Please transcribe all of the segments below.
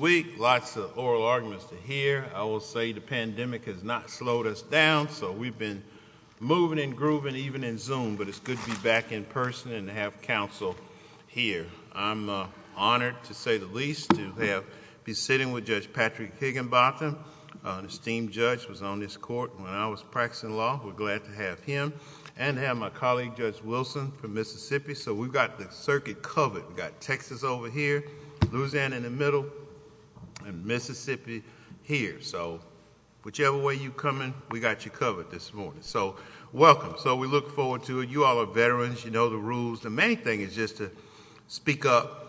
Week. Lots of oral arguments to hear. I will say the pandemic has not slowed us down. So we've been moving and grooving even in zoom. But it's good to be back in person and have counsel here. I'm honored to say the least to have be sitting with Judge Patrick Higginbotham. Esteemed judge was on this court when I was practicing law. We're glad to have him and have my colleague Judge Wilson from Mississippi. So we've got the circuit covered. We've got Texas over here, Louisiana in the middle and Mississippi here. So whichever way you come in, we got you covered this morning. So welcome. So we look forward to you all are veterans. You know the rules. The main thing is just to speak up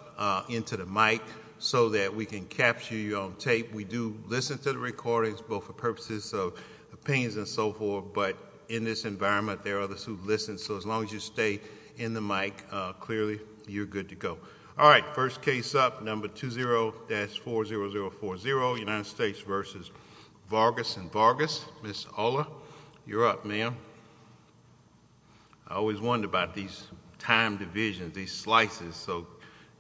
into the mic so that we can capture you on tape. We do listen to the recordings both for purposes of opinions and so forth. But in this environment, there are others who listen. So as long as you stay in the go. All right. First case up number 20-40040 United States versus Vargas and Vargas. Miss Ola, you're up, ma'am. I always wonder about these time divisions, these slices. So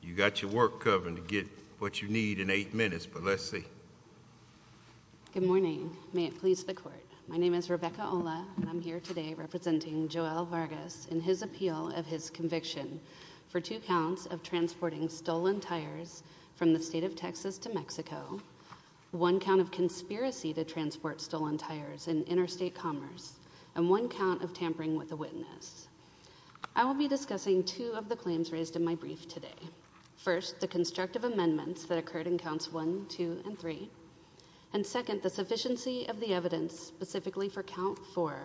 you got your work covered to get what you need in eight minutes. But let's see. Good morning. May it please the court. My name is Rebecca Ola. I'm here today representing Joel Vargas in his appeal of his conviction for two counts of transporting stolen tires from the state of Texas to Mexico. One count of conspiracy to transport stolen tires in interstate commerce and one count of tampering with the witness. I will be discussing two of the claims raised in my brief today. First, the constructive amendments that occurred in counts one, two and three. And second, the sufficiency of the evidence specifically for count four,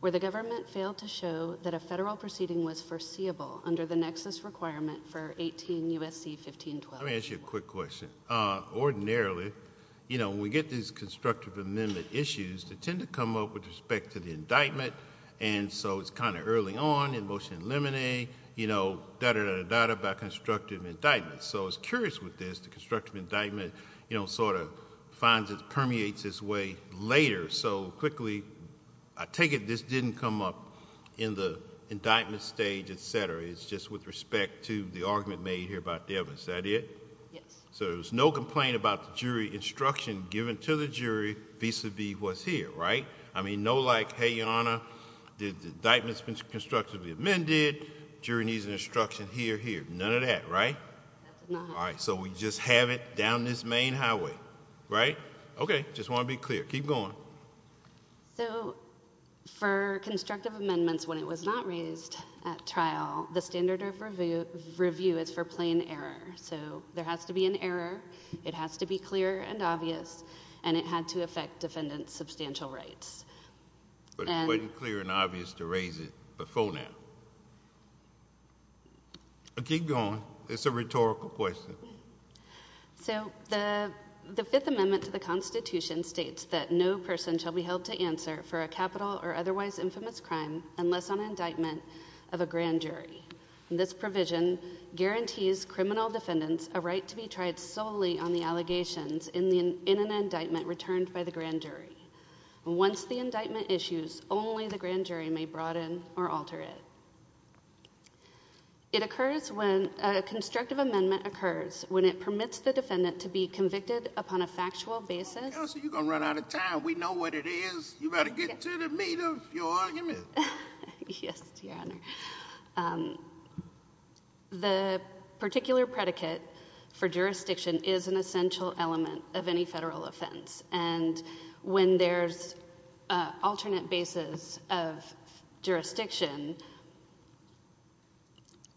where the government failed to show that a federal proceeding was foreseeable under the nexus requirement for 18 U. S. C. 1512. Let me ask you a quick question. Ordinarily, you know, we get these constructive amendment issues that tend to come up with respect to the indictment. And so it's kind of early on in motion eliminate, you know, that are not about constructive indictments. So I was curious with this. The constructive indictment, you know, sort of finds it permeates this way later. So quickly, I take it this didn't come up in the indictment stage, etcetera. It's just with respect to the argument made here about the evidence that it so there's no complaint about the jury instruction given to the jury vis a vis was here, right? I mean, no, like, Hey, your honor, the indictments been constructively amended. Jury needs instruction here. Here. None of that, right? All right. So we just have it down this main highway, right? Okay. Just wanna be clear. Keep going. So for constructive amendments when it was not raised at trial, the standard of review review is for plain error. So there has to be an error. It has to be clear and obvious, and it had to affect defendants substantial rights. But it wasn't clear and obvious to raise it before now. I keep going. It's a rhetorical question. So the Fifth Amendment to the Constitution states that no person shall be held to answer for a capital or otherwise infamous crime unless on indictment of a grand jury. This provision guarantees criminal defendants a right to be tried solely on the allegations in the in an indictment returned by the grand jury. Once the it occurs when a constructive amendment occurs when it permits the defendant to be convicted upon a factual basis, you're gonna run out of time. We know what it is. You better get to the meat of your argument. Yes, Your Honor. The particular predicate for jurisdiction is an essential element of any federal offense. And when there's alternate bases of jurisdiction,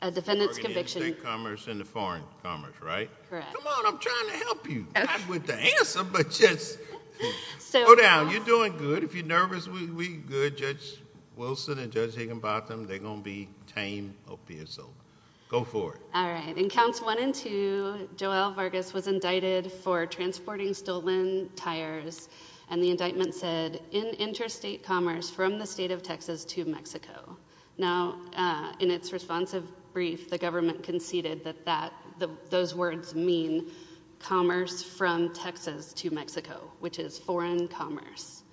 a defendant's conviction commerce in the foreign commerce, right? Come on. I'm trying to help you with the answer. But yes, so now you're doing good. If you're nervous, we good. Judge Wilson and Judge Higginbottom, they're gonna be tame. Okay, so go for it. All right. And counts one and two. Joel Vargas was indicted for transporting stolen tires, and the indictment said in interstate commerce from the state of Texas to Mexico. Now, in its responsive brief, the government conceded that that those words mean commerce from Texas to Mexico, which is foreign commerce.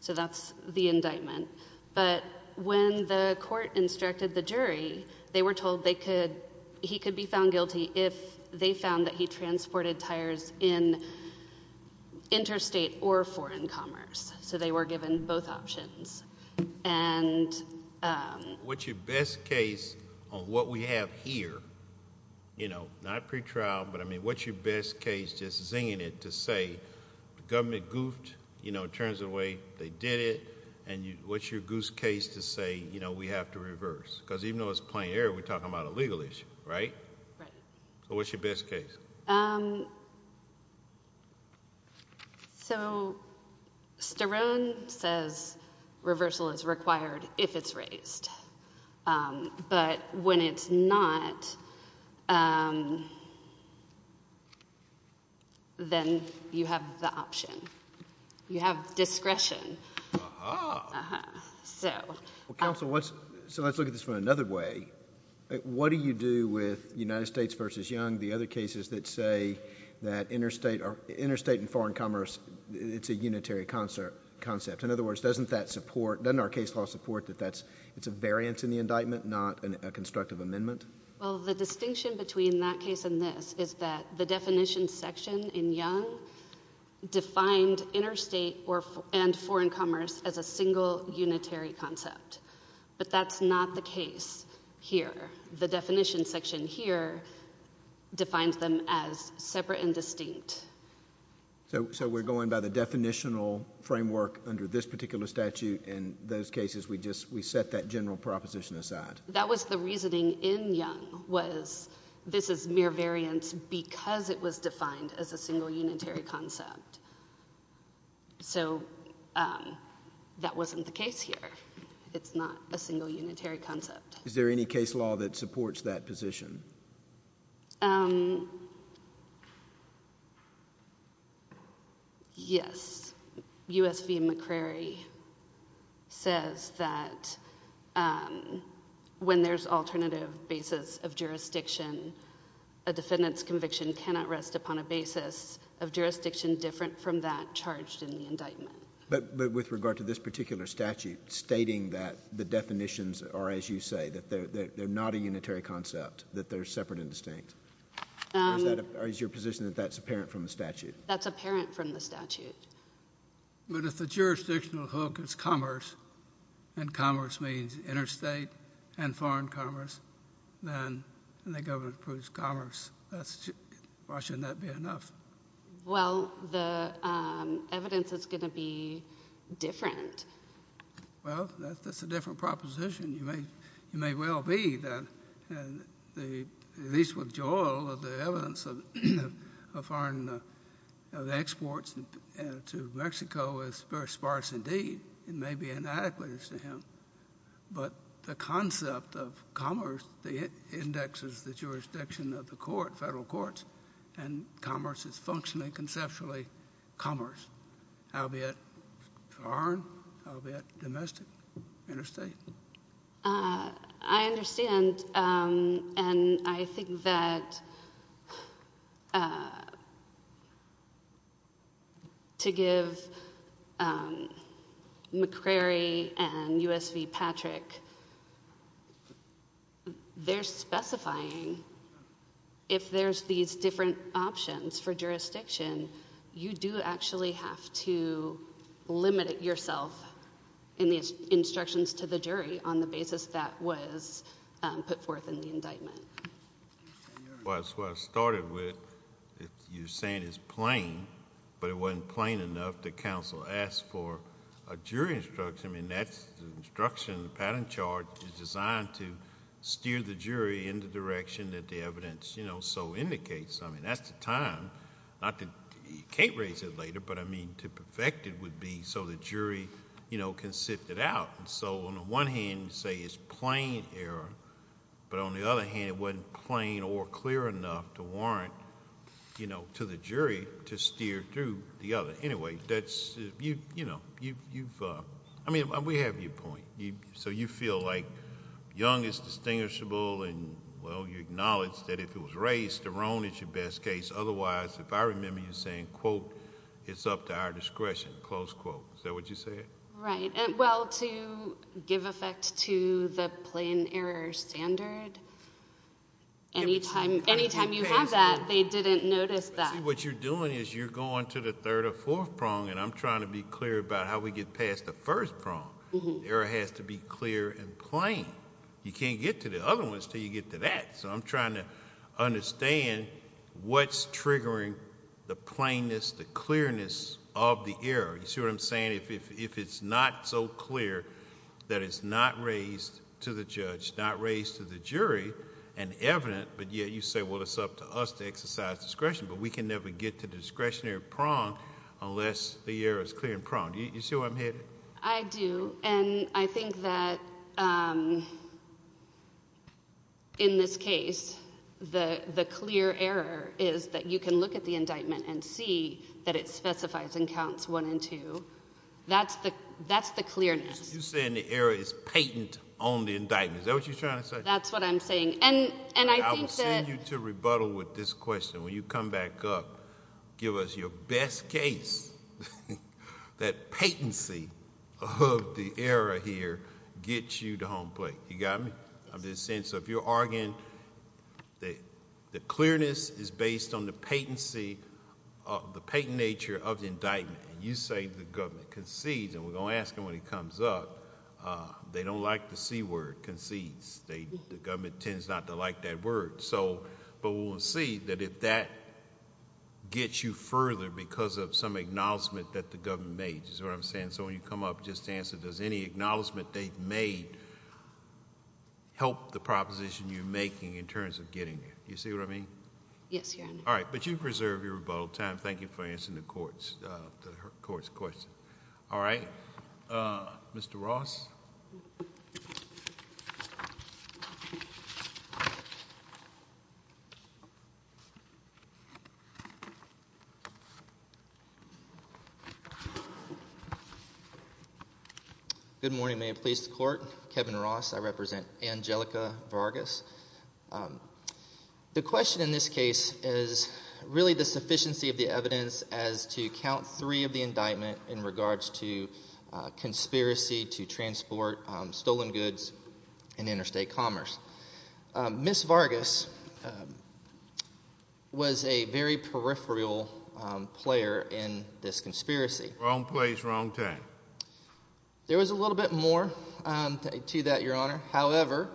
So that's the indictment. But when the court instructed the jury, they were told they could he could be found guilty if they found that he transported tires in interstate or foreign commerce. So they were given both options. And what's your best case on what we have here? You know, not pretrial. But I mean, what's your best case? Just zinging it to say government goofed, you know, turns away. They did it. And what's your goose case to say? You know, we have to reverse because even though it's plain air, we're talking about a legal issue, right? What's your best case? Um, so Sterone says reversal is required if it's raised. But when it's not, um, then you have the option. You have discretion. Uh huh. So what? So let's look at this from another way. What do you do with United States versus Young? The other cases that say that interstate are interstate and foreign commerce. It's a unitary concert concept. In other words, doesn't that support then our case law support that that's it's a variance in the indictment, not a constructive amendment. Well, the distinction between that case and this is that the definition section in Young defined interstate or and foreign commerce as a single unitary concept. But that's not the case here. The definition section here defines them as separate and distinct. So we're going by the definitional framework under this particular statute. In those cases, we just we set that general proposition aside. That was the reasoning in Young was this is mere variance because it was defined as a single unitary concept. So, um, that wasn't the case here. It's not a single unitary concept. Is there any case law that supports that position? Um, yes. U. S. V. McCrary says that, um, when there's alternative basis of jurisdiction, a defendant's conviction cannot rest upon a basis of jurisdiction. So that's the definition of the statute. But that's not the that's a different from that charged in the indictment. But with regard to this particular statute stating that the definitions are, as you say, that they're not a unitary concept, that they're separate and distinct. Is your position that that's apparent from the statute? That's apparent from the evidence is gonna be different. Well, that's a different proposition. You may you may well be that the least with joy of the evidence of foreign exports to Mexico is very sparse. Indeed, it may be inadequate to him. But the concept of commerce, the indexes, the jurisdiction of the court, federal courts and commerce is functioning conceptually. Commerce, albeit foreign, albeit domestic interstate. Uh, I understand. Um, and I think that, uh, to give, um, McCrary and U. S. V. Patrick, they're specifying if there's these different options for jurisdiction, you do actually have to limit yourself in these instructions to the jury on the basis that was put forth in the indictment. Well, that's what I started with. You're saying it's plain, but it wasn't plain enough. The council asked for a jury instruction. I mean, that's instruction. Pattern charge is designed to steer the jury in the direction that the evidence, you know, so indicates. I mean, that's the time. Not that you can't raise it later, but I mean, to perfect it would be so the jury, you know, can sit it out. So on the one hand, say it's plain error. But on the other hand, it wasn't plain or clear enough to warrant, you know, to the jury to steer through the other. Anyway, that's you, you know, you've I mean, we have your point. So you feel like young is distinguishable. And well, you acknowledge that if it was raised to Ron, it's your best case. Otherwise, if I remember you saying quote, it's up to our discretion. Close quote. Is that what you say? Right. Well, to give effect to the plain error standard anytime, anytime you have that they didn't notice that what you're doing is you're going to the third or fourth prong. And I'm trying to be clear about how we get past the first prong. There has to be clear and plain. You can't get to the other ones till you get to that. So I'm trying to understand what's triggering the plainness, the clearness of the air. You see what I'm saying? If it's not so clear that it's not raised to the judge, not raised to the jury and evident. But yet you say, well, it's up to us to exercise discretion. But we can never get to discretionary prong unless the air is clear and prone. You see where I'm headed? I do. And I think that, um, in this case, the clear error is that you can look at the indictment and see that it specifies and counts one and two. That's the that's the clearness. You're saying the area is patent on the indictment. Is that what you're trying to say? That's what I'm saying. And I will send you to rebuttal with this that patency of the era here gets you to home plate. You got me? I'm just saying. So if you're arguing that the clearness is based on the patency, the patent nature of the indictment, you say the government concedes and we're gonna ask him when he comes up. They don't like the C word concedes. The government tends not to like that word. So but we'll see that if that gets you made. That's what I'm saying. So when you come up, just answer. Does any acknowledgement they've made help the proposition you're making in terms of getting it? You see what I mean? Yes. All right. But you preserve your rebuttal time. Thank you for answering the court's court's question. All right, Mr Ross. Good morning. May it please the court. Kevin Ross. I represent Angelica Vargas. The question in this case is really the sufficiency of the evidence as to count three of the indictment in regards to conspiracy to transport stolen goods in interstate commerce. Miss Vargas was a very peripheral player in this conspiracy. Wrong place. Wrong time. There was a little bit more to that, Your Honor. However,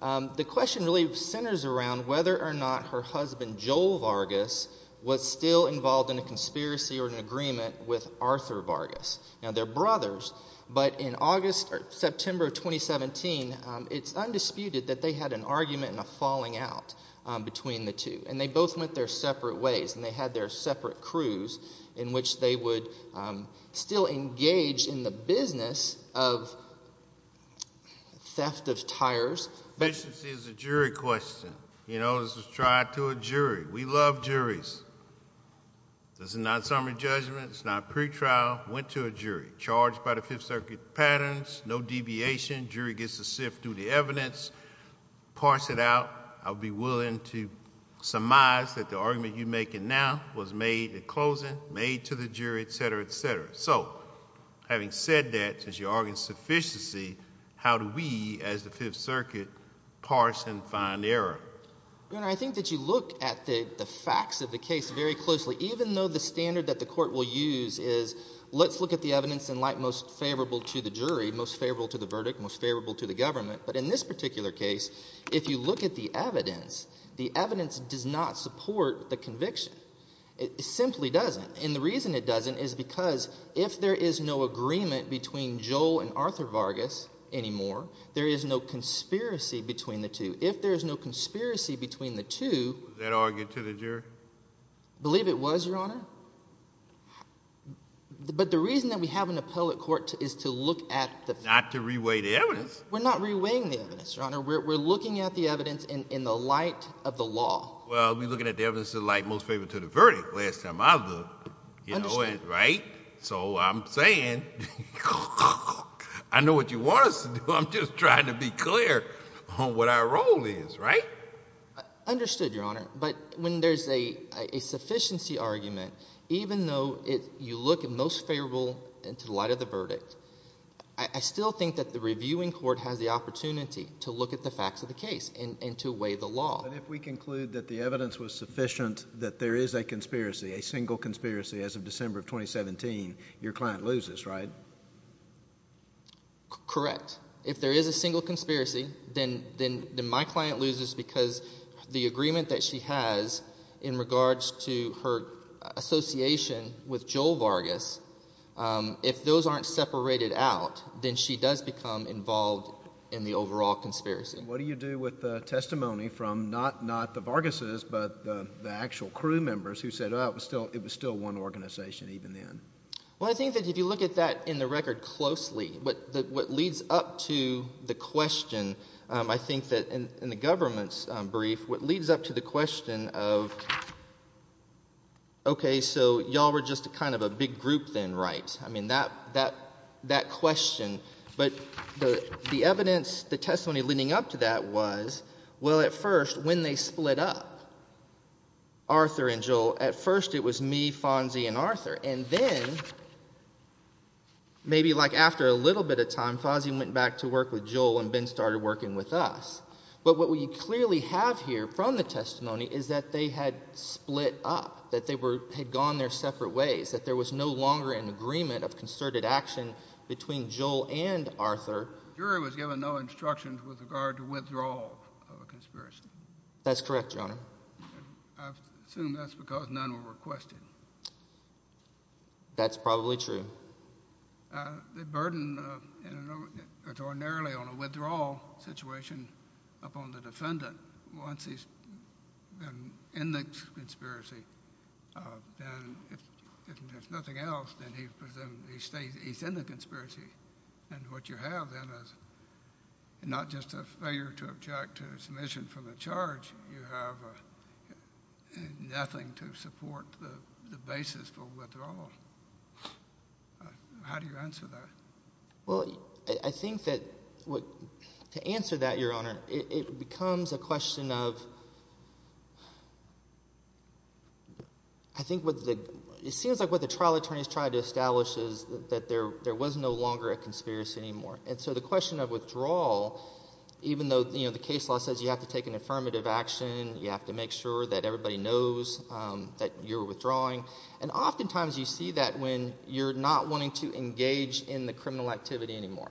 the question really centers around whether or not her husband, Joel Vargas, was still involved in a conspiracy or an agreement with Arthur Vargas. Now, they're brothers. But in August or September of 2017, it's undisputed that they had an argument and a falling out between the two. And they both went their separate ways. And they had their separate crews in which they would still engage in the business of theft of tires. This is a jury question. You know, this was tried to a jury. We love juries. This is not summary judgment. It's not pre trial. Went to a jury charged by the Fifth Circuit patterns. No deviation. Jury gets to sift through the parts that out. I'll be willing to surmise that the argument you're making now was made the closing made to the jury, etcetera, etcetera. So having said that, as you are in sufficiency, how do we as the Fifth Circuit parse and find error? I think that you look at the facts of the case very closely, even though the standard that the court will use is let's look at the evidence and like most favorable to the jury, most favorable to the verdict, most if you look at the evidence, the evidence does not support the conviction. It simply doesn't. And the reason it doesn't is because if there is no agreement between Joel and Arthur Vargas anymore, there is no conspiracy between the two. If there's no conspiracy between the two that argued to the jury, believe it was your honor. But the reason that we have an appellate court is to look at the not to reweigh the evidence. We're not reweighing the evidence, your honor. We're looking at the evidence in the light of the law. Well, we're looking at the evidence of light, most favorable to the verdict. Last time I looked, you know it, right? So I'm saying I know what you want us to do. I'm just trying to be clear on what our role is, right? Understood, your honor. But when there's a sufficiency argument, even though you look at most favorable into the light of the verdict, I still think that the reviewing court has the opportunity to look at the facts of the case and to weigh the law. But if we conclude that the evidence was sufficient, that there is a conspiracy, a single conspiracy as of December of 2017, your client loses, right? Correct. If there is a single conspiracy, then my client loses because the agreement that she has in regards to her association with Joel Vargas, if those aren't separated out, then she does become involved in the overall conspiracy. What do you do with the testimony from not the Vargases, but the actual crew members who said, oh, it was still one organization even then? Well, I think that if you look at that in the record closely, what leads up to the question, I think that in the government's brief, what leads up to the question of, okay, so y'all were just kind of a big group then, right? I mean, that question. But the evidence, the testimony leading up to that was, well, at first, when they split up, Arthur and Joel, at first it was me, Fonzie, and Arthur. And then maybe like after a little bit of time, Fonzie went back to work with Joel and Ben started working with us. But what we clearly have here from the testimony is that they had split up, that they had gone their separate ways, that there was no longer an agreement of concerted action between Joel and Arthur. The jury was given no instructions with regard to withdrawal of a conspiracy. That's correct, Your Honor. I assume that's because none were requested. That's probably true. They burdened him extraordinarily on a withdrawal situation upon the defendant. Once he's been in the conspiracy, then if there's nothing else, then he's in the conspiracy. And what you have then is not just a failure to object to submission from the charge. You have nothing to support the basis for withdrawal. How do you answer that? Well, I think that to answer that, Your Honor, it becomes a question of, I think what the, it seems like what the trial attorneys tried to establish is that there was no longer a conspiracy anymore. And so the question of withdrawal, even though, you know, the case law says you have to take an affirmative action, you have to make sure that everybody knows that you're not, oftentimes you see that when you're not wanting to engage in the criminal activity anymore.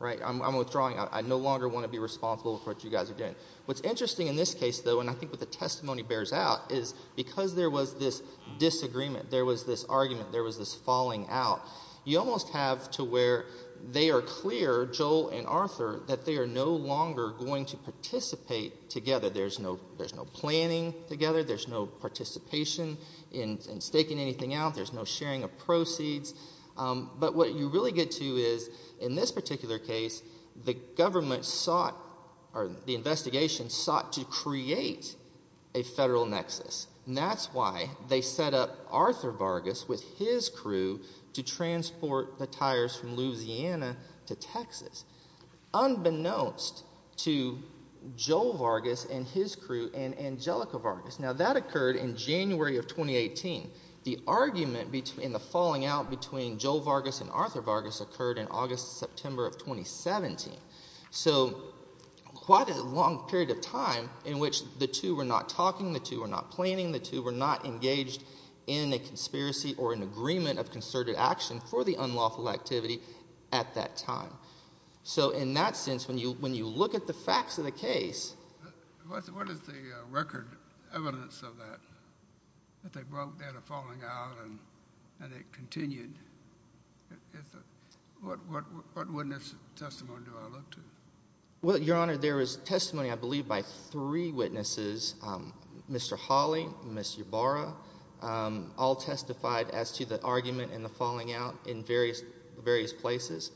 Right? I'm withdrawing. I no longer want to be responsible for what you guys are doing. What's interesting in this case, though, and I think what the testimony bears out, is because there was this disagreement, there was this argument, there was this falling out, you almost have to where they are clear, Joel and Arthur, that they are no longer going to participate together. There's no planning together, there's no participation in staking anything out, there's no sharing of proceeds. But what you really get to is, in this particular case, the government sought, or the investigation sought to create a federal nexus. And that's why they set up Arthur Vargas with his crew to transport the tires from Louisiana to Texas. Unbeknownst to Joel Vargas and his crew, and Angelica Vargas. Now that occurred in January of 2018. The argument in the falling out between Joel Vargas and Arthur Vargas occurred in August-September of 2017. So quite a long period of time in which the two were not talking, the two were not planning, the two were not engaged in a conspiracy or an agreement of concerted action for the unlawful activity at that time. What is the record evidence of that? That they broke their falling out and it continued? What witness testimony do I look to? Well, Your Honor, there is testimony, I believe, by three witnesses. Mr. Hawley, Mr. Ybarra, all testified as to the argument in the falling out in various various places.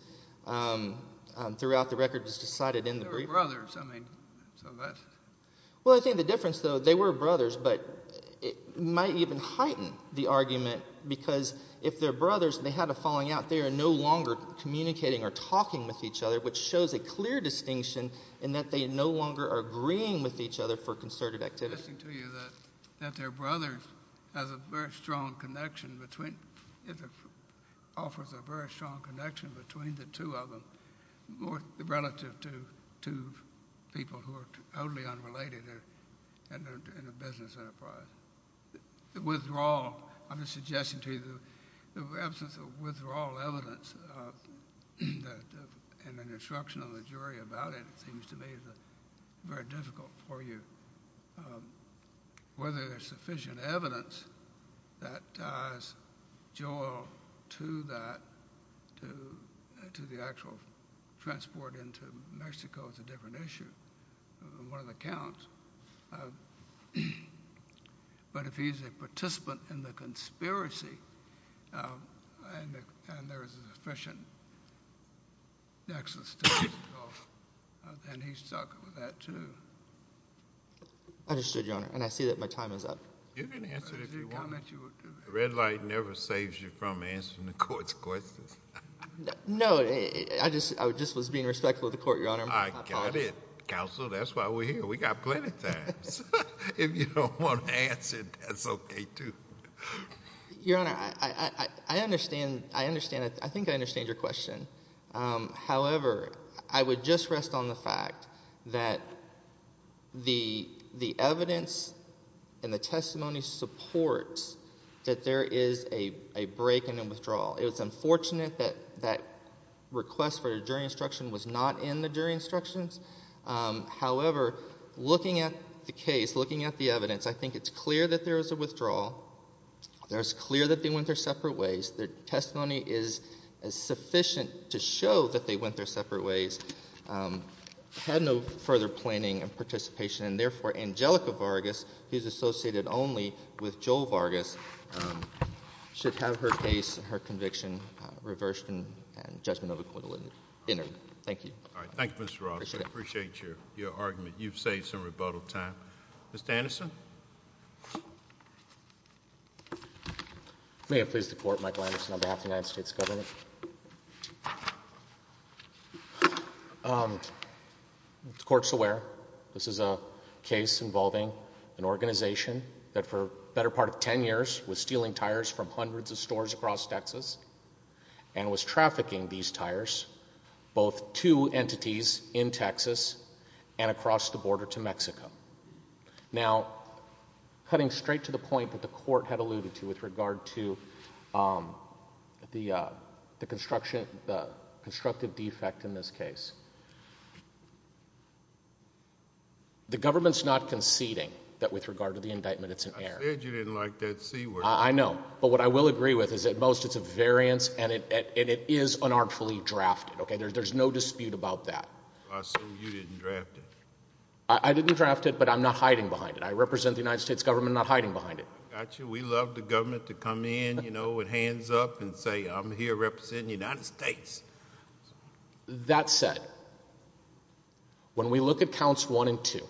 Throughout the record, it was decided in the briefing. They were brothers, I mean, so that's... Well, I think the difference, though, they were brothers, but it might even heighten the argument because if they're brothers and they had a falling out, they are no longer communicating or talking with each other, which shows a clear distinction in that they no longer are agreeing with each other for concerted activity. I'm asking to you that their brother has a very strong connection between, offers a very strong connection between the two of them, more relative to two people who are totally unrelated in a business enterprise. The withdrawal, I'm just suggesting to you, the absence of withdrawal evidence and an instruction of the jury about it seems to me very difficult for you. Whether there's a joy to that, to the actual transport into Mexico is a different issue, one of the counts, but if he's a participant in the conspiracy and there is sufficient access to Mexico, then he's stuck with that, too. Understood, Your Honor, and I see that my time is up. You can answer if you want. The red light never saves you from answering the court's questions. No, I just was being respectful of the court, Your Honor. I got it. Counsel, that's why we're here. We got plenty of time. If you don't want to answer, that's okay, too. Your Honor, I understand, I think I understand your question. However, I would just rest on the fact that the evidence and the testimony supports that there is a break in the withdrawal. It was unfortunate that that request for a jury instruction was not in the jury instructions. However, looking at the case, looking at the evidence, I think it's clear that there is a withdrawal. It's clear that they went their separate ways. Their testimony is sufficient to show that they went their separate ways, had no further planning and participation, and therefore, Angelica Vargas, who's associated only with Joel Vargas, should have her case and her conviction reversed and judgment of acquittal entered. Thank you. All right. Thank you, Mr. Ross. I appreciate your argument. You've saved some rebuttal time. Mr. Anderson? May it please the court, Michael Anderson, on behalf of the United States government. The court's aware this is a case involving an organization that for the better part of 10 years was stealing tires from hundreds of stores across Texas and was trafficking these tires, both to entities in Texas and across the border to Mexico. Now, cutting straight to the point that the court had alluded to with regard to the constructive defect in this case, the government's not conceding that with regard to the indictment it's an error. I said you didn't like that C word. I know, but what I will agree with is at most it's a variance and it is unartfully drafted. There's no dispute about that. I assume you didn't draft it. I didn't draft it, but I'm not hiding behind it. I represent the United States government, not hiding behind it. We love the government to come in with hands up and say I'm here representing the United States. That said, when we look at counts one and two,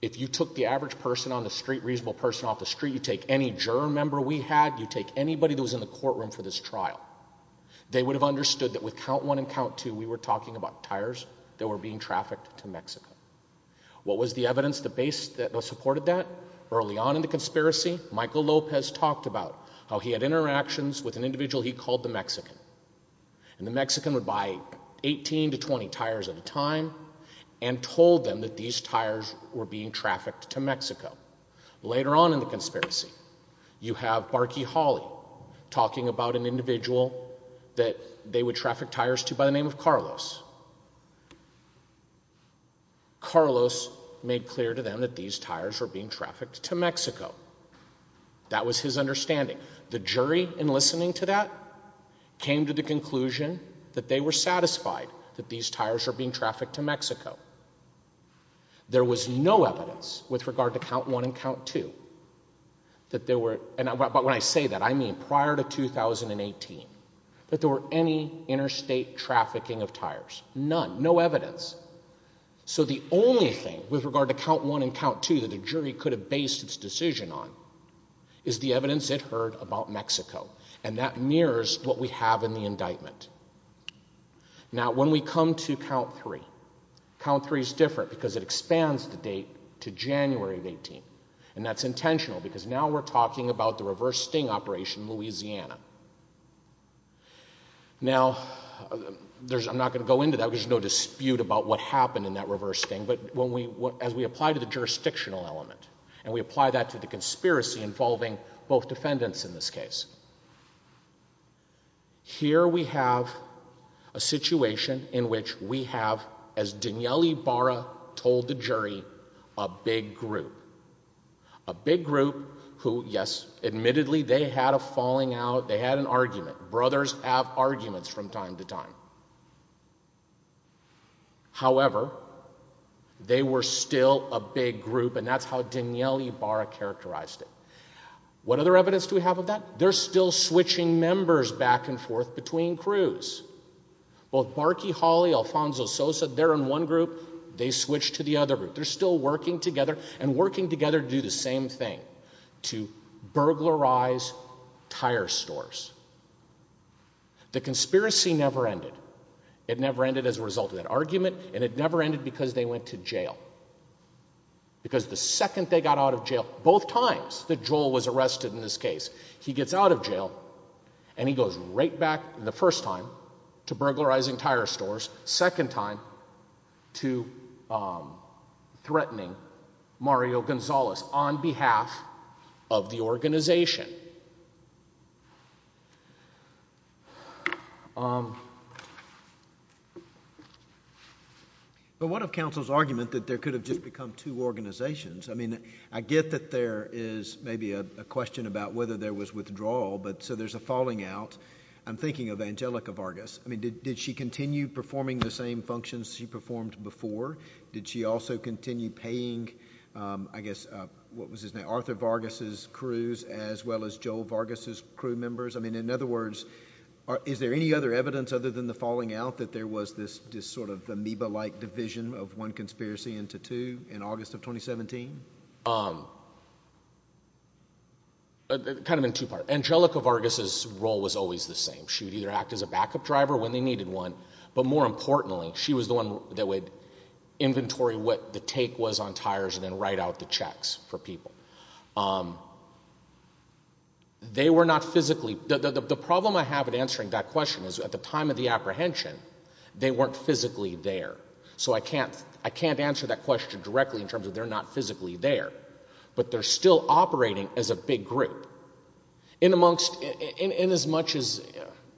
if you took the average person on the street, reasonable person off the street, you take any juror member we had, you take anybody that was in the courtroom for this trial, they would have understood that with count one and count two we were talking about tires that were being trafficked to Mexico. What was the evidence that supported that? Early on in the conspiracy, Michael Lopez talked about how he had interactions with an individual he called the Mexican. And the Mexican would buy 18 to 20 tires at a time and told them that these tires were being trafficked to Mexico. Later on in the conspiracy, you have Barky Hawley talking about an individual that they would traffic tires to by the name of Carlos. Carlos made clear to them that these tires were being trafficked to Mexico. That was his understanding. The jury, in listening to that, came to the conclusion that they were satisfied that these tires were being trafficked to Mexico. There was no evidence with regard to count one and count two that there were, and when I say that I mean prior to 2018, that there were any interstate trafficking of tires. None. No evidence. So the only thing with regard to count one and count two that the jury could have based its decision on is the evidence it heard about Mexico. And that mirrors what we have in the indictment. Now, when we come to count three, count three is different because it expands the date to January of 2018. And that's intentional because now we're talking about the reverse sting operation in Louisiana. Now, I'm not going to go into that because there's no dispute about what happened in that reverse sting, but as we apply to the jurisdictional element, and we apply that to the conspiracy involving both defendants in this case, here we have a situation in which we have, as Danielle Ibarra told the jury, a big group. A big group who, yes, admittedly, they had a falling out. They had an argument. Brothers have arguments from time to time. However, they were still a big group, and that's how Danielle Ibarra characterized it. What other evidence do we have of that? They're still switching members back and forth between crews. Both Barky Hawley, Alfonso Sosa, they're in one group. They switch to the other group. They're still working together and working together to do the same thing, to burglarize tire stores. The conspiracy never ended. It never ended as a result of that argument, and it never ended because they went to jail. Because the second they got out of jail, both times that Joel was arrested in this case, he gets out of jail, and he goes right back the first time to burglarizing tire stores, second time to threatening Mario Gonzalez on behalf of the organization. But what of counsel's argument that there could have just become two organizations? I mean, I get that there is maybe a question about whether there was withdrawal, but so there's a falling out. I'm thinking of Angelica Vargas. I mean, did she continue performing the same functions she performed before? Did she also continue paying, I guess, what was his name, Arthur Vargas' crews as well as Joel Vargas' crew members? I mean, in other words, is there any other evidence other than the falling out that there was this sort of amoeba-like division of one conspiracy into two in August of 2017? Kind of in two parts. Angelica Vargas' role was always the same. She would either act as a backup driver when they needed one, but more importantly, she was the one that would inventory what the take was on tires and then write out the checks for people. They were not physically... The problem I have in answering that question is at the time of the apprehension, they weren't physically there. So I can't answer that question directly in terms of they're not physically there. But they're still operating as a big group. In as much as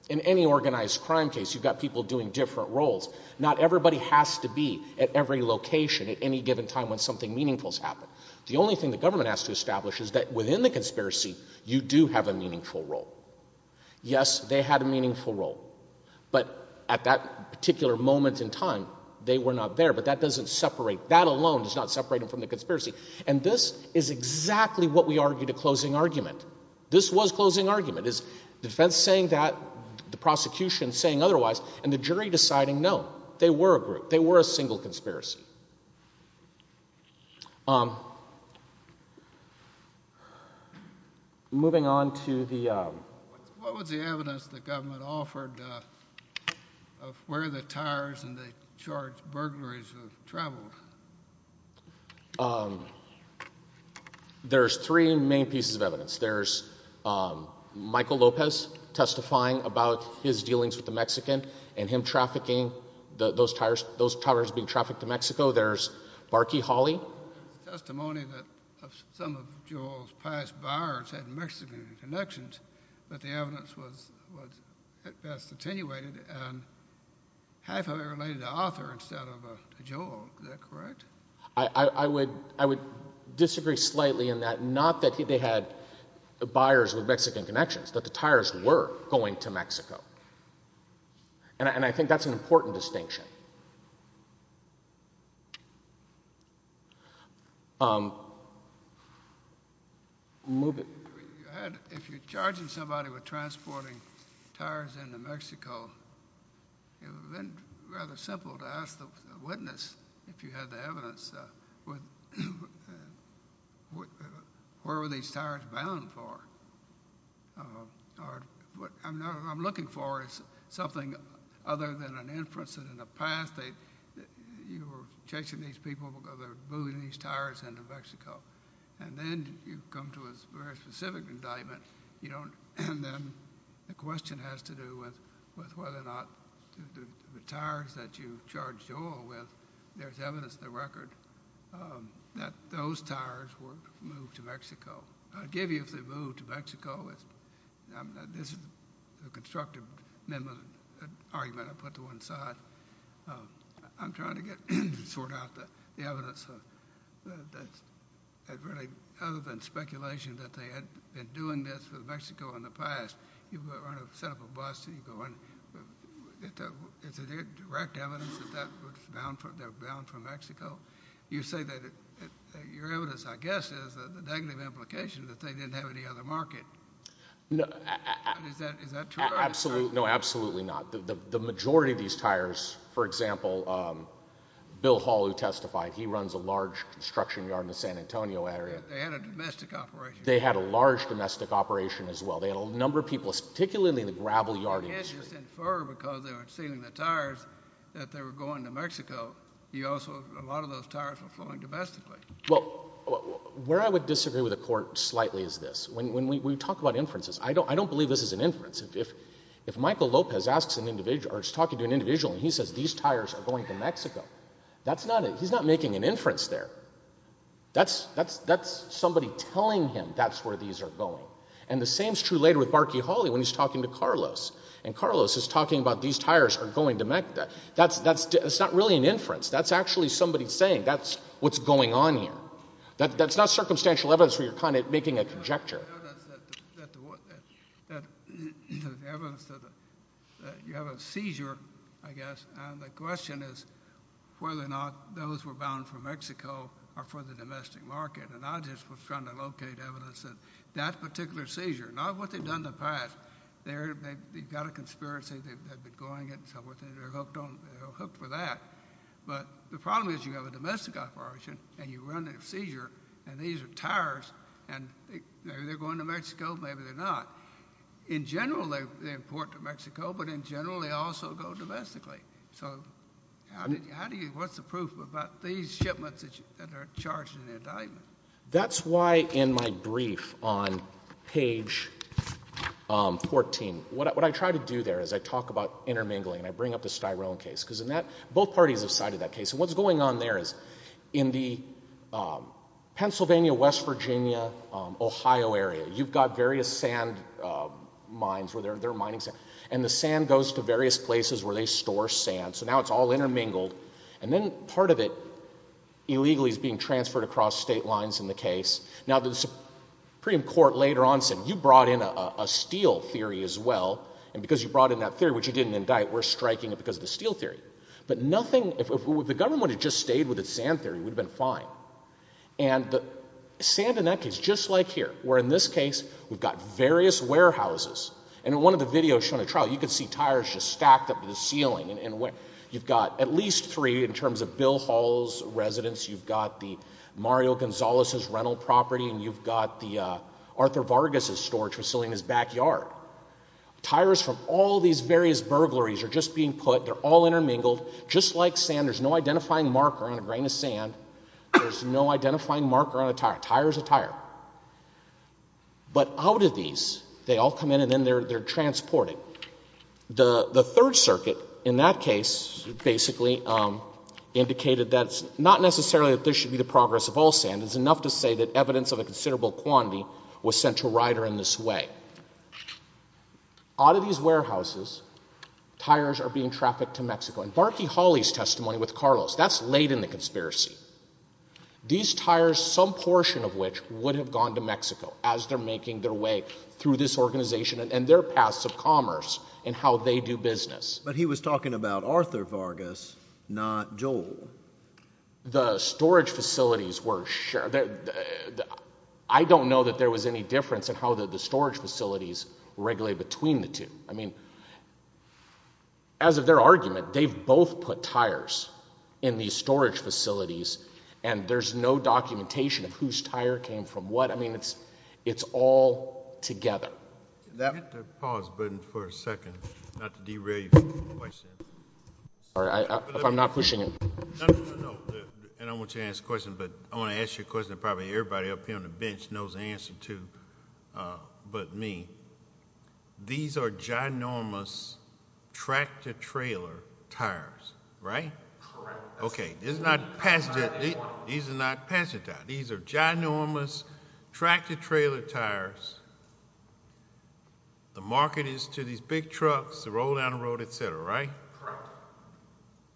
in any organized crime case, you've got people doing different roles. Not everybody has to be at every location at any given time when something meaningful has happened. The only thing the government has to establish is that within the conspiracy, you do have a meaningful role. Yes, they had a meaningful role. But at that particular moment in time, they were not there. But that doesn't separate. That alone does not separate them from the conspiracy. And this is exactly what we argue to closing argument. This was closing argument. It's the defense saying that, the prosecution saying otherwise, and the jury deciding no. They were a group. They were a single conspiracy. Moving on to the... What was the evidence the government offered of where the Tyres and the charged burglaries have traveled? There's three main pieces of evidence. There's Michael Lopez testifying about his dealings with the Mexican and him trafficking those Tyres. Those Tyres being trafficked to Mexico. There's Barky Hawley. There's testimony that some of Joel's past buyers had Mexican connections. But the evidence was at best attenuated and half of it related to Arthur instead of Joel. Is that correct? I would disagree slightly in that. Not that they had buyers with Mexican connections. That the Tyres were going to Mexico. And I think that's an important distinction. If you're charging somebody with transporting Tyres into Mexico, it would have been rather simple to ask the witness if you had the evidence. Where were these Tyres bound for? What I'm looking for is something other than an inference that in the past you were chasing these people because they were moving these Tyres into Mexico. And then you come to a very specific indictment. And then the question has to do with whether or not the Tyres that you charged Joel with, there's evidence in the record that those Tyres were moved to Mexico. I'll give you if they moved to Mexico. This is a constructive argument I put to one side. I'm trying to sort out the evidence. Other than speculation that they had been doing this with Mexico in the past, you set up a bust and you go in. Is there direct evidence that they were bound from Mexico? You say that your evidence, I guess, is the negative implication that they didn't have any other market. Is that true? No, absolutely not. The majority of these Tyres, for example, Bill Hall who testified, he runs a large construction yard in the San Antonio area. They had a domestic operation. They had a large domestic operation as well. They had a number of people, particularly in the gravel yard industry. They were going to Mexico. A lot of those Tyres were flowing domestically. Well, where I would disagree with the Court slightly is this. When we talk about inferences, I don't believe this is an inference. If Michael Lopez asks an individual or is talking to an individual and he says these Tyres are going to Mexico, that's not it. He's not making an inference there. That's somebody telling him that's where these are going. And the same is true later with Barky Hawley when he's talking to Carlos. And Carlos is talking about these Tyres are going to Mexico. That's not really an inference. That's actually somebody saying that's what's going on here. That's not circumstantial evidence where you're kind of making a conjecture. The evidence that you have a seizure, I guess, and the question is whether or not those were bound for Mexico or for the domestic market. And I just was trying to locate evidence that that particular seizure, not what they've done in the past. They've got a conspiracy. They've been going and so forth, and they're hooked for that. But the problem is you have a domestic operation, and you run a seizure, and these are Tyres, and they're going to Mexico. Maybe they're not. In general, they import to Mexico, but in general, they also go domestically. So how do you – what's the proof about these shipments that are charged in the indictment? That's why in my brief on page 14, what I try to do there is I talk about intermingling, and I bring up the Styrone case. Because in that – both parties have cited that case. And what's going on there is in the Pennsylvania, West Virginia, Ohio area, you've got various sand mines where they're mining sand. And the sand goes to various places where they store sand, so now it's all intermingled. And then part of it illegally is being transferred across state lines in the case. Now, the Supreme Court later on said you brought in a steel theory as well, and because you brought in that theory, which you didn't indict, we're striking it because of the steel theory. But nothing – if the government had just stayed with its sand theory, we'd have been fine. And the sand in that case, just like here, where in this case, we've got various warehouses. And in one of the videos shown at trial, you can see tires just stacked up to the ceiling. And you've got at least three in terms of Bill Hall's residence. You've got the Mario Gonzalez's rental property, and you've got the Arthur Vargas's storage facility in his backyard. Tires from all these various burglaries are just being put. They're all intermingled. Just like sand, there's no identifying marker on a grain of sand. There's no identifying marker on a tire. A tire is a tire. But out of these, they all come in and then they're transported. The Third Circuit in that case basically indicated that it's not necessarily that this should be the progress of all sand. It's enough to say that evidence of a considerable quantity was sent to Ryder in this way. Out of these warehouses, tires are being trafficked to Mexico. In Barkey Hawley's testimony with Carlos, that's late in the conspiracy. These tires, some portion of which would have gone to Mexico as they're making their way through this organization and their paths of commerce and how they do business. But he was talking about Arthur Vargas, not Joel. The storage facilities were shared. I don't know that there was any difference in how the storage facilities regulated between the two. As of their argument, they've both put tires in these storage facilities, and there's no documentation of whose tire came from what. It's all together. Pause for a second, not to derail your question. Sorry, I'm not pushing it. I want you to ask a question, but I want to ask you a question that probably everybody up here on the bench knows the answer to but me. These are ginormous tractor-trailer tires, right? Okay. These are not passenger tires. These are ginormous tractor-trailer tires. The market is to these big trucks that roll down the road, et cetera, right? Correct.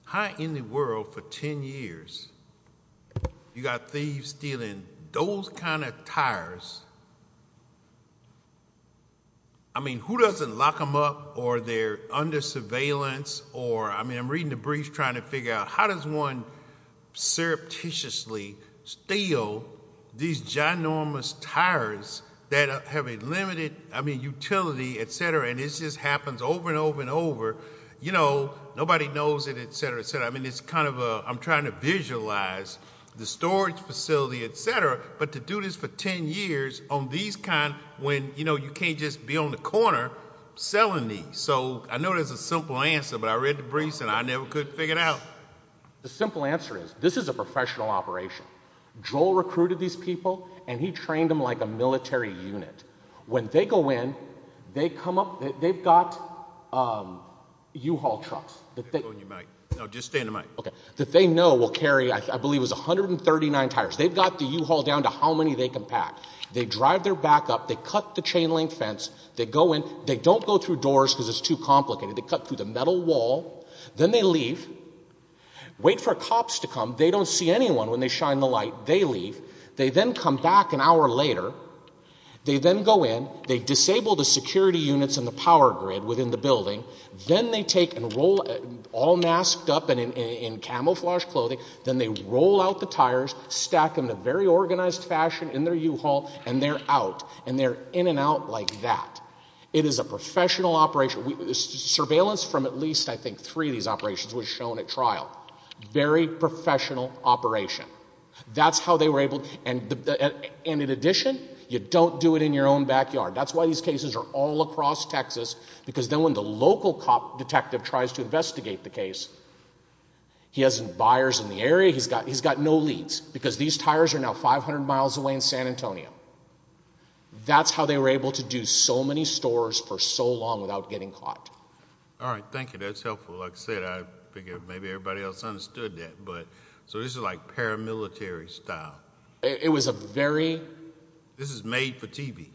How in the world for 10 years you got thieves stealing those kind of tires? I mean, who doesn't lock them up or they're under surveillance or, I mean, I'm reading the briefs trying to figure out how does one surreptitiously steal these ginormous tires that have a limited, I mean, utility, et cetera, and it just happens over and over and over? You know, nobody knows it, et cetera, et cetera. I mean, it's kind of a—I'm trying to visualize the storage facility, et cetera, but to do this for 10 years on these kind when, you know, you can't just be on the corner selling these. So I know there's a simple answer, but I read the briefs and I never could figure it out. The simple answer is this is a professional operation. Joel recruited these people, and he trained them like a military unit. When they go in, they come up—they've got U-Haul trucks that they— Stay on your mic. No, just stay on the mic. Okay, that they know will carry I believe it was 139 tires. They've got the U-Haul down to how many they can pack. They drive their back up. They cut the chain link fence. They go in. They don't go through doors because it's too complicated. They cut through the metal wall. Then they leave, wait for cops to come. They don't see anyone when they shine the light. They leave. They then come back an hour later. They then go in. They disable the security units and the power grid within the building. Then they take and roll all masked up in camouflaged clothing. Then they roll out the tires, stack them in a very organized fashion in their U-Haul, and they're out, and they're in and out like that. It is a professional operation. Surveillance from at least I think three of these operations was shown at trial. Very professional operation. That's how they were able— And in addition, you don't do it in your own backyard. That's why these cases are all across Texas because then when the local cop detective tries to investigate the case, he hasn't buyers in the area. He's got no leads because these tires are now 500 miles away in San Antonio. That's how they were able to do so many stores for so long without getting caught. All right, thank you. That's helpful. Like I said, I figured maybe everybody else understood that. So this is like paramilitary style. It was a very— This is made for TV.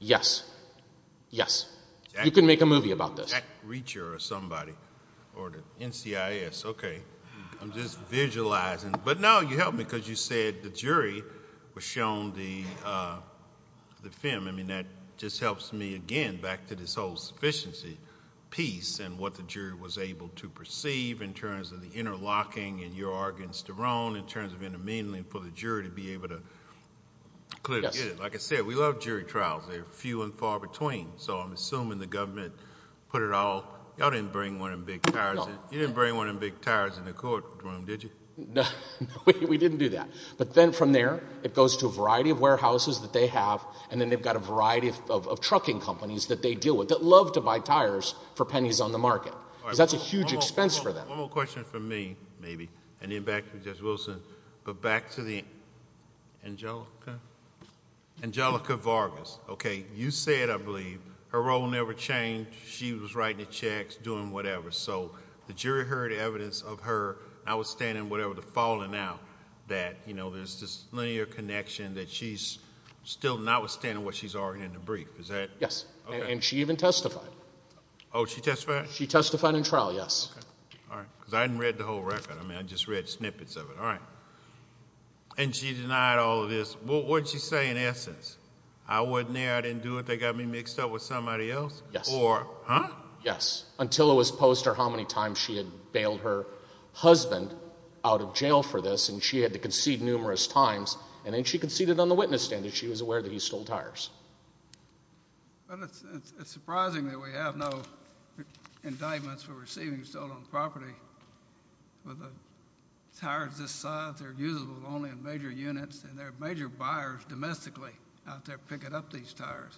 Yes, yes. You can make a movie about this. Jack Reacher or somebody or the NCIS. Okay, I'm just visualizing. But no, you helped me because you said the jury was shown the film. I mean that just helps me again back to this whole sufficiency piece and what the jury was able to perceive in terms of the interlocking and your arguments, Jerome, in terms of intermingling for the jury to be able to clearly get it. Like I said, we love jury trials. They're few and far between. So I'm assuming the government put it all— Y'all didn't bring one of them big tires in the courtroom, did you? No, we didn't do that. But then from there, it goes to a variety of warehouses that they have, and then they've got a variety of trucking companies that they deal with that love to buy tires for pennies on the market because that's a huge expense for them. One more question for me, maybe, and then back to Judge Wilson. But back to the Angelica Vargas. Okay, you said, I believe, her role never changed. She was writing the checks, doing whatever. So the jury heard evidence of her notwithstanding whatever, the falling out, that there's this linear connection that she's still notwithstanding what she's arguing in the brief. Is that— Yes, and she even testified. Oh, she testified? She testified in trial, yes. All right, because I hadn't read the whole record. I mean, I just read snippets of it. All right. And she denied all of this. What did she say in essence? I wasn't there. I didn't do it. They got me mixed up with somebody else? Yes. Or—huh? Yes, until it was posed to her how many times she had bailed her husband out of jail for this, and she had to concede numerous times, and then she conceded on the witness stand that she was aware that he stole tires. Well, it's surprising that we have no indictments for receiving stolen property. With the tires this size, they're usable only in major units, and there are major buyers domestically out there picking up these tires.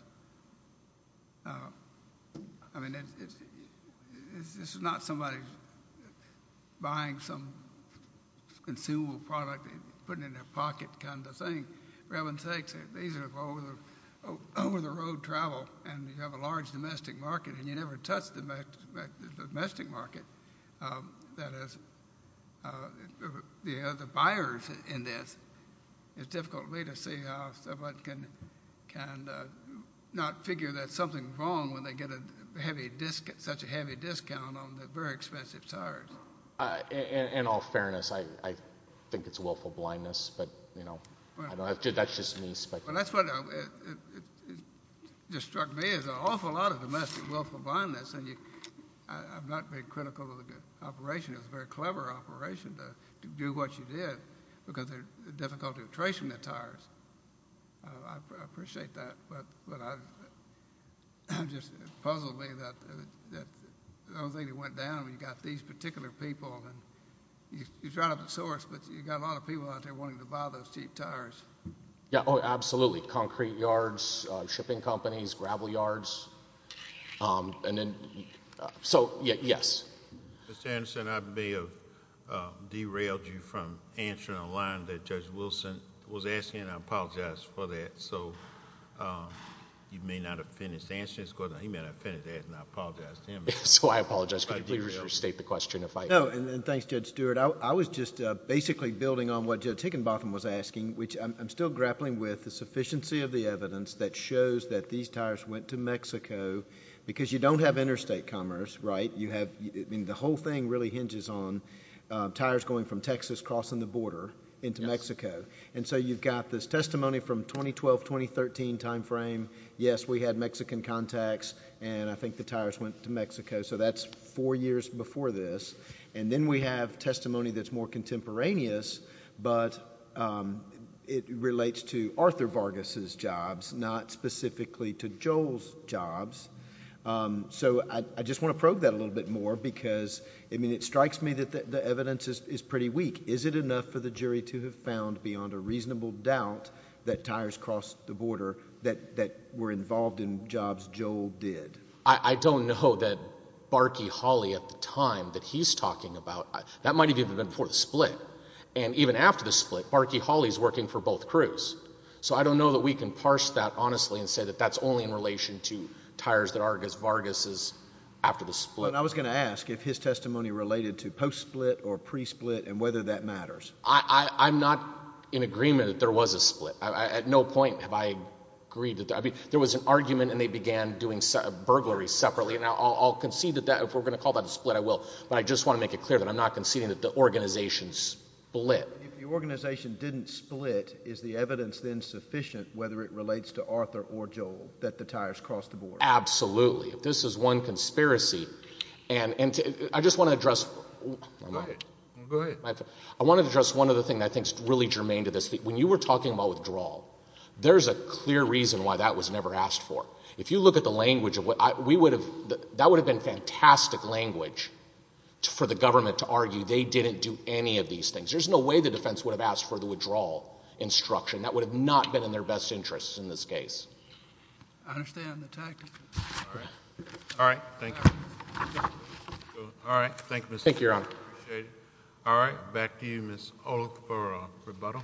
I mean, this is not somebody buying some consumable product and putting it in their pocket kind of thing. These are for over-the-road travel, and you have a large domestic market, and you never touch the domestic market. That is, the buyers in this, it's difficult for me to see how someone can not figure that something's wrong when they get such a heavy discount on the very expensive tires. In all fairness, I think it's willful blindness, but, you know, that's just me speculating. Well, that's what just struck me is an awful lot of domestic willful blindness, and I'm not being critical of the operation. It was a very clever operation to do what you did because of the difficulty of tracing the tires. I appreciate that, but it just puzzled me that the only thing that went down was you've got these particular people, and you try to source, but you've got a lot of people out there wanting to buy those cheap tires. Yeah, absolutely, concrete yards, shipping companies, gravel yards. So, yes. Mr. Anderson, I may have derailed you from answering a line that Judge Wilson was asking, and I apologize for that. So you may not have finished answering this question. He may not have finished answering it, and I apologize to him. So I apologize. Could you please restate the question? Thanks, Judge Stewart. I was just basically building on what Judge Higginbotham was asking, which I'm still grappling with the sufficiency of the evidence that shows that these tires went to Mexico because you don't have interstate commerce, right? The whole thing really hinges on tires going from Texas crossing the border into Mexico, and so you've got this testimony from 2012-2013 time frame. Yes, we had Mexican contacts, and I think the tires went to Mexico. So that's four years before this, and then we have testimony that's more contemporaneous, but it relates to Arthur Vargas's jobs, not specifically to Joel's jobs. So I just want to probe that a little bit more because, I mean, it strikes me that the evidence is pretty weak. Is it enough for the jury to have found beyond a reasonable doubt that tires crossed the border that were involved in jobs Joel did? I don't know that Barky Holley at the time that he's talking about, that might have even been before the split. And even after the split, Barky Holley is working for both crews. So I don't know that we can parse that honestly and say that that's only in relation to tires that Vargas is after the split. I was going to ask if his testimony related to post-split or pre-split and whether that matters. I'm not in agreement that there was a split. At no point have I agreed that there was an argument and they began doing burglaries separately. Now, I'll concede that if we're going to call that a split, I will, but I just want to make it clear that I'm not conceding that the organization split. If the organization didn't split, is the evidence then sufficient whether it relates to Arthur or Joel that the tires crossed the border? Absolutely. If this is one conspiracy, and I just want to address one other thing that I think is really germane to this. When you were talking about withdrawal, there's a clear reason why that was never asked for. If you look at the language, that would have been fantastic language for the government to argue they didn't do any of these things. There's no way the defense would have asked for the withdrawal instruction. That would have not been in their best interest in this case. I understand the tactic. All right. Thank you. All right. Thank you, Mr. Chief. Thank you, Your Honor. I appreciate it. All right. Back to you, Ms. O'Rourke, for rebuttal.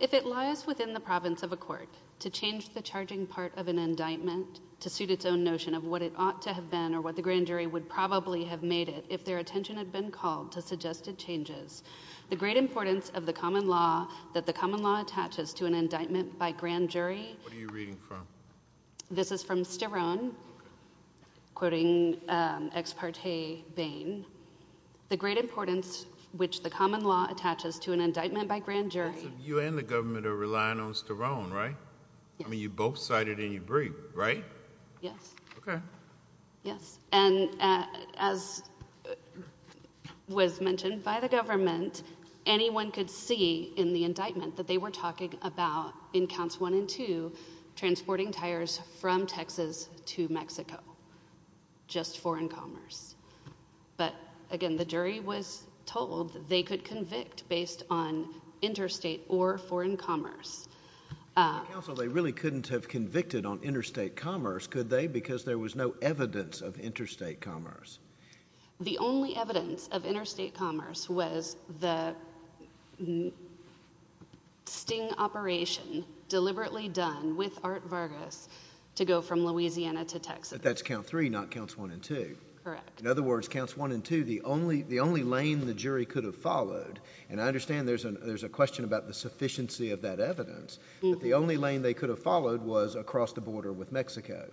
If it lies within the province of a court to change the charging part of an indictment to suit its own notion of what it ought to have been or what the grand jury would probably have made it if their attention had been called to suggested changes, the great importance of the common law that the common law attaches to an indictment by grand jury— What are you reading from? This is from Sterone, quoting Ex parte Bain. The great importance which the common law attaches to an indictment by grand jury— You and the government are relying on Sterone, right? I mean, you both cited in your brief, right? Yes. Okay. Yes. And as was mentioned by the government, anyone could see in the indictment that they were talking about, in counts one and two, transporting tires from Texas to Mexico, just foreign commerce. But, again, the jury was told that they could convict based on interstate or foreign commerce. Counsel, they really couldn't have convicted on interstate commerce, could they, because there was no evidence of interstate commerce? The only evidence of interstate commerce was the sting operation deliberately done with Art Vargas to go from Louisiana to Texas. But that's count three, not counts one and two. Correct. In other words, counts one and two, the only lane the jury could have followed— and I understand there's a question about the sufficiency of that evidence— but the only lane they could have followed was across the border with Mexico.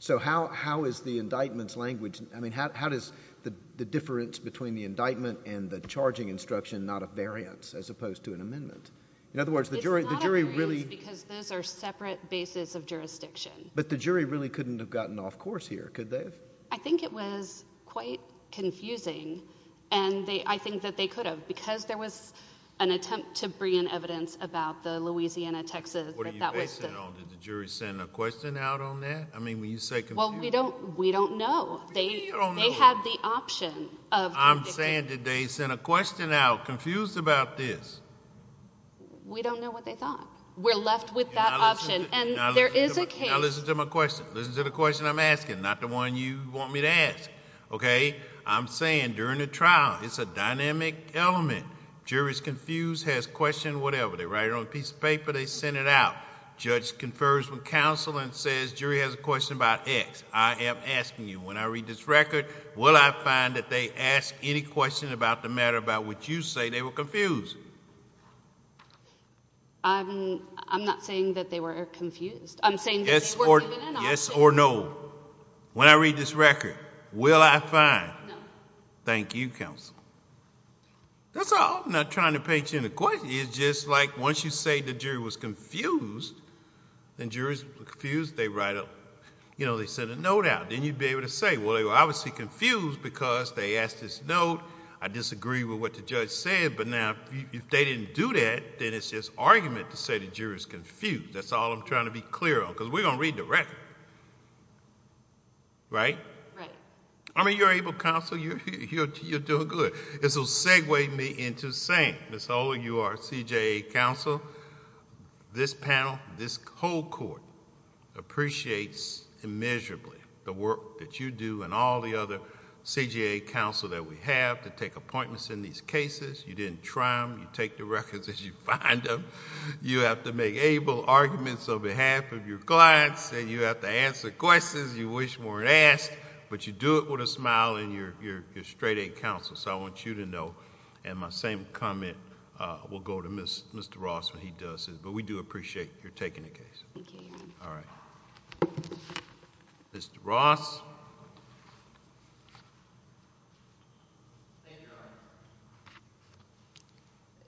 So how is the indictment's language— I mean, how is the difference between the indictment and the charging instruction not a variance as opposed to an amendment? In other words, the jury really— It's not a variance because those are separate bases of jurisdiction. But the jury really couldn't have gotten off course here, could they? I think it was quite confusing, and I think that they could have, but because there was an attempt to bring in evidence about the Louisiana-Texas— What are you basing it on? Did the jury send a question out on that? I mean, when you say— Well, we don't know. They had the option of— I'm saying did they send a question out confused about this? We don't know what they thought. We're left with that option, and there is a case— Now listen to my question. Listen to the question I'm asking, not the one you want me to ask, okay? I'm saying during the trial, it's a dynamic element. Jury's confused, has a question, whatever. They write it on a piece of paper, they send it out. Judge confers with counsel and says, jury has a question about X. I am asking you, when I read this record, will I find that they asked any question about the matter about which you say they were confused? I'm not saying that they were confused. I'm saying that they were given an option. Yes or no. When I read this record, will I find? No. Thank you, counsel. That's all. I'm not trying to paint you in a question. It's just like once you say the jury was confused, then jury's confused. They write a—they send a note out. Then you'd be able to say, well, they were obviously confused because they asked this note. I disagree with what the judge said, but now if they didn't do that, then it's just argument to say the jury's confused. That's all I'm trying to be clear on because we're going to read the record. Right? Right. I mean, you're able counsel. You're doing good. This will segue me into saying, Ms. Oler, you are CJA counsel. This panel, this whole court appreciates immeasurably the work that you do and all the other CJA counsel that we have to take appointments in these cases. You didn't try them. You take the records as you find them. You have to make able arguments on behalf of your clients, and you have to answer questions you wish weren't asked, but you do it with a smile, and you're straight A counsel. So I want you to know, and my same comment will go to Mr. Ross when he does this, but we do appreciate your taking the case. Thank you. All right. Thank you, Your Honor.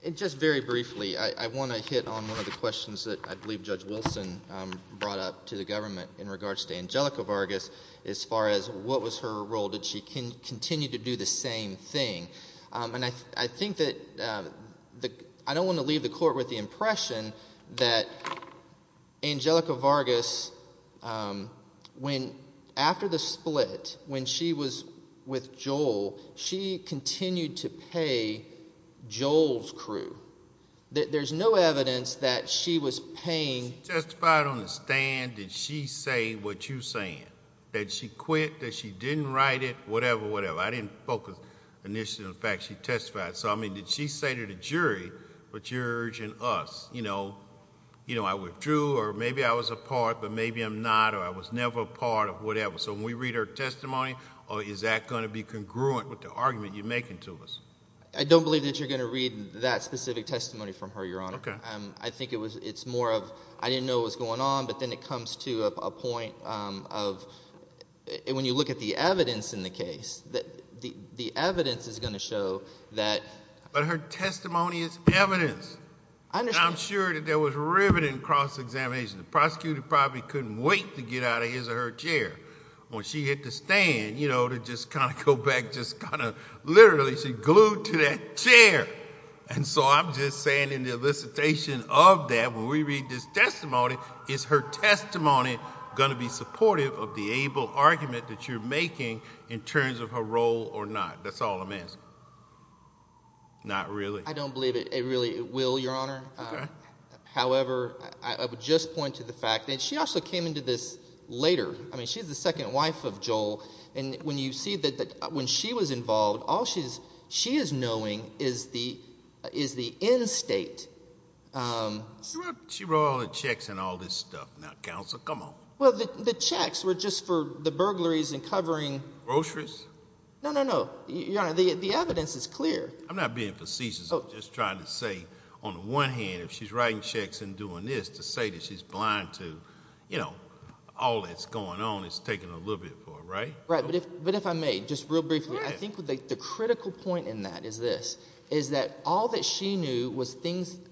And just very briefly, I want to hit on one of the questions that I believe Judge Wilson brought up to the government in regards to Angelica Vargas as far as what was her role. Did she continue to do the same thing? And I think that I don't want to leave the court with the impression that Angelica Vargas, after the split, when she was with Joel, she continued to pay Joel's crew. There's no evidence that she was paying— She testified on the stand that she said what you're saying, that she quit, that she didn't write it, whatever, whatever. I didn't focus initially on the fact she testified. So, I mean, did she say to the jury, but you're urging us, I withdrew, or maybe I was a part, but maybe I'm not, or I was never a part of whatever. So when we read her testimony, is that going to be congruent with the argument you're making to us? I don't believe that you're going to read that specific testimony from her, Your Honor. I think it's more of I didn't know what was going on, but then it comes to a point of when you look at the evidence in the case, the evidence is going to show that— But her testimony is evidence. I'm sure that there was riveting cross-examination. The prosecutor probably couldn't wait to get out of his or her chair when she hit the stand to just kind of go back, just kind of literally she glued to that chair. And so I'm just saying in the elicitation of that, when we read this testimony, is her testimony going to be supportive of the able argument that you're making in terms of her role or not? That's all I'm asking. Not really. I don't believe it really will, Your Honor. However, I would just point to the fact that she also came into this later. I mean she's the second wife of Joel, and when you see that when she was involved, all she is knowing is the end state. She wrote all the checks and all this stuff. Now, counsel, come on. Well, the checks were just for the burglaries and covering— Groceries? No, no, no. Your Honor, the evidence is clear. I'm not being facetious. I'm just trying to say on the one hand if she's writing checks and doing this to say that she's blind to all that's going on, it's taking a little bit for her, right? Right, but if I may, just real briefly, I think the critical point in that is this, is that all that she knew was things –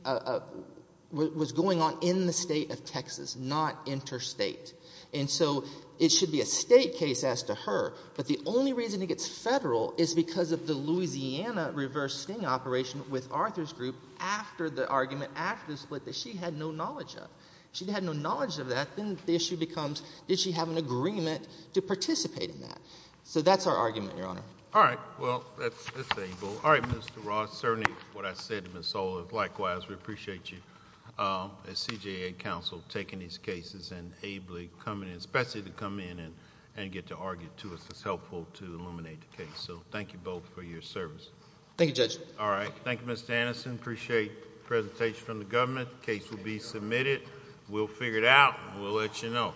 was going on in the state of Texas, not interstate. And so it should be a state case as to her, but the only reason it gets federal is because of the Louisiana reverse sting operation with Arthur's group after the argument, after the split that she had no knowledge of. She had no knowledge of that. Then the issue becomes did she have an agreement to participate in that? So that's our argument, Your Honor. All right. Well, that's able. All right, Mr. Ross. Certainly, what I said to Ms. Sola, likewise, we appreciate you as CJA counsel taking these cases and ably coming, especially to come in and get to argue too. It's helpful to illuminate the case. So thank you both for your service. Thank you, Judge. All right. Thank you, Mr. Anderson. Appreciate presentation from the government. The case will be submitted. We'll figure it out. We'll let you know.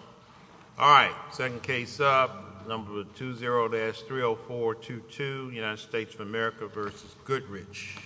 All right. Second case up. Number 20-30422, United States of America versus Goodrich.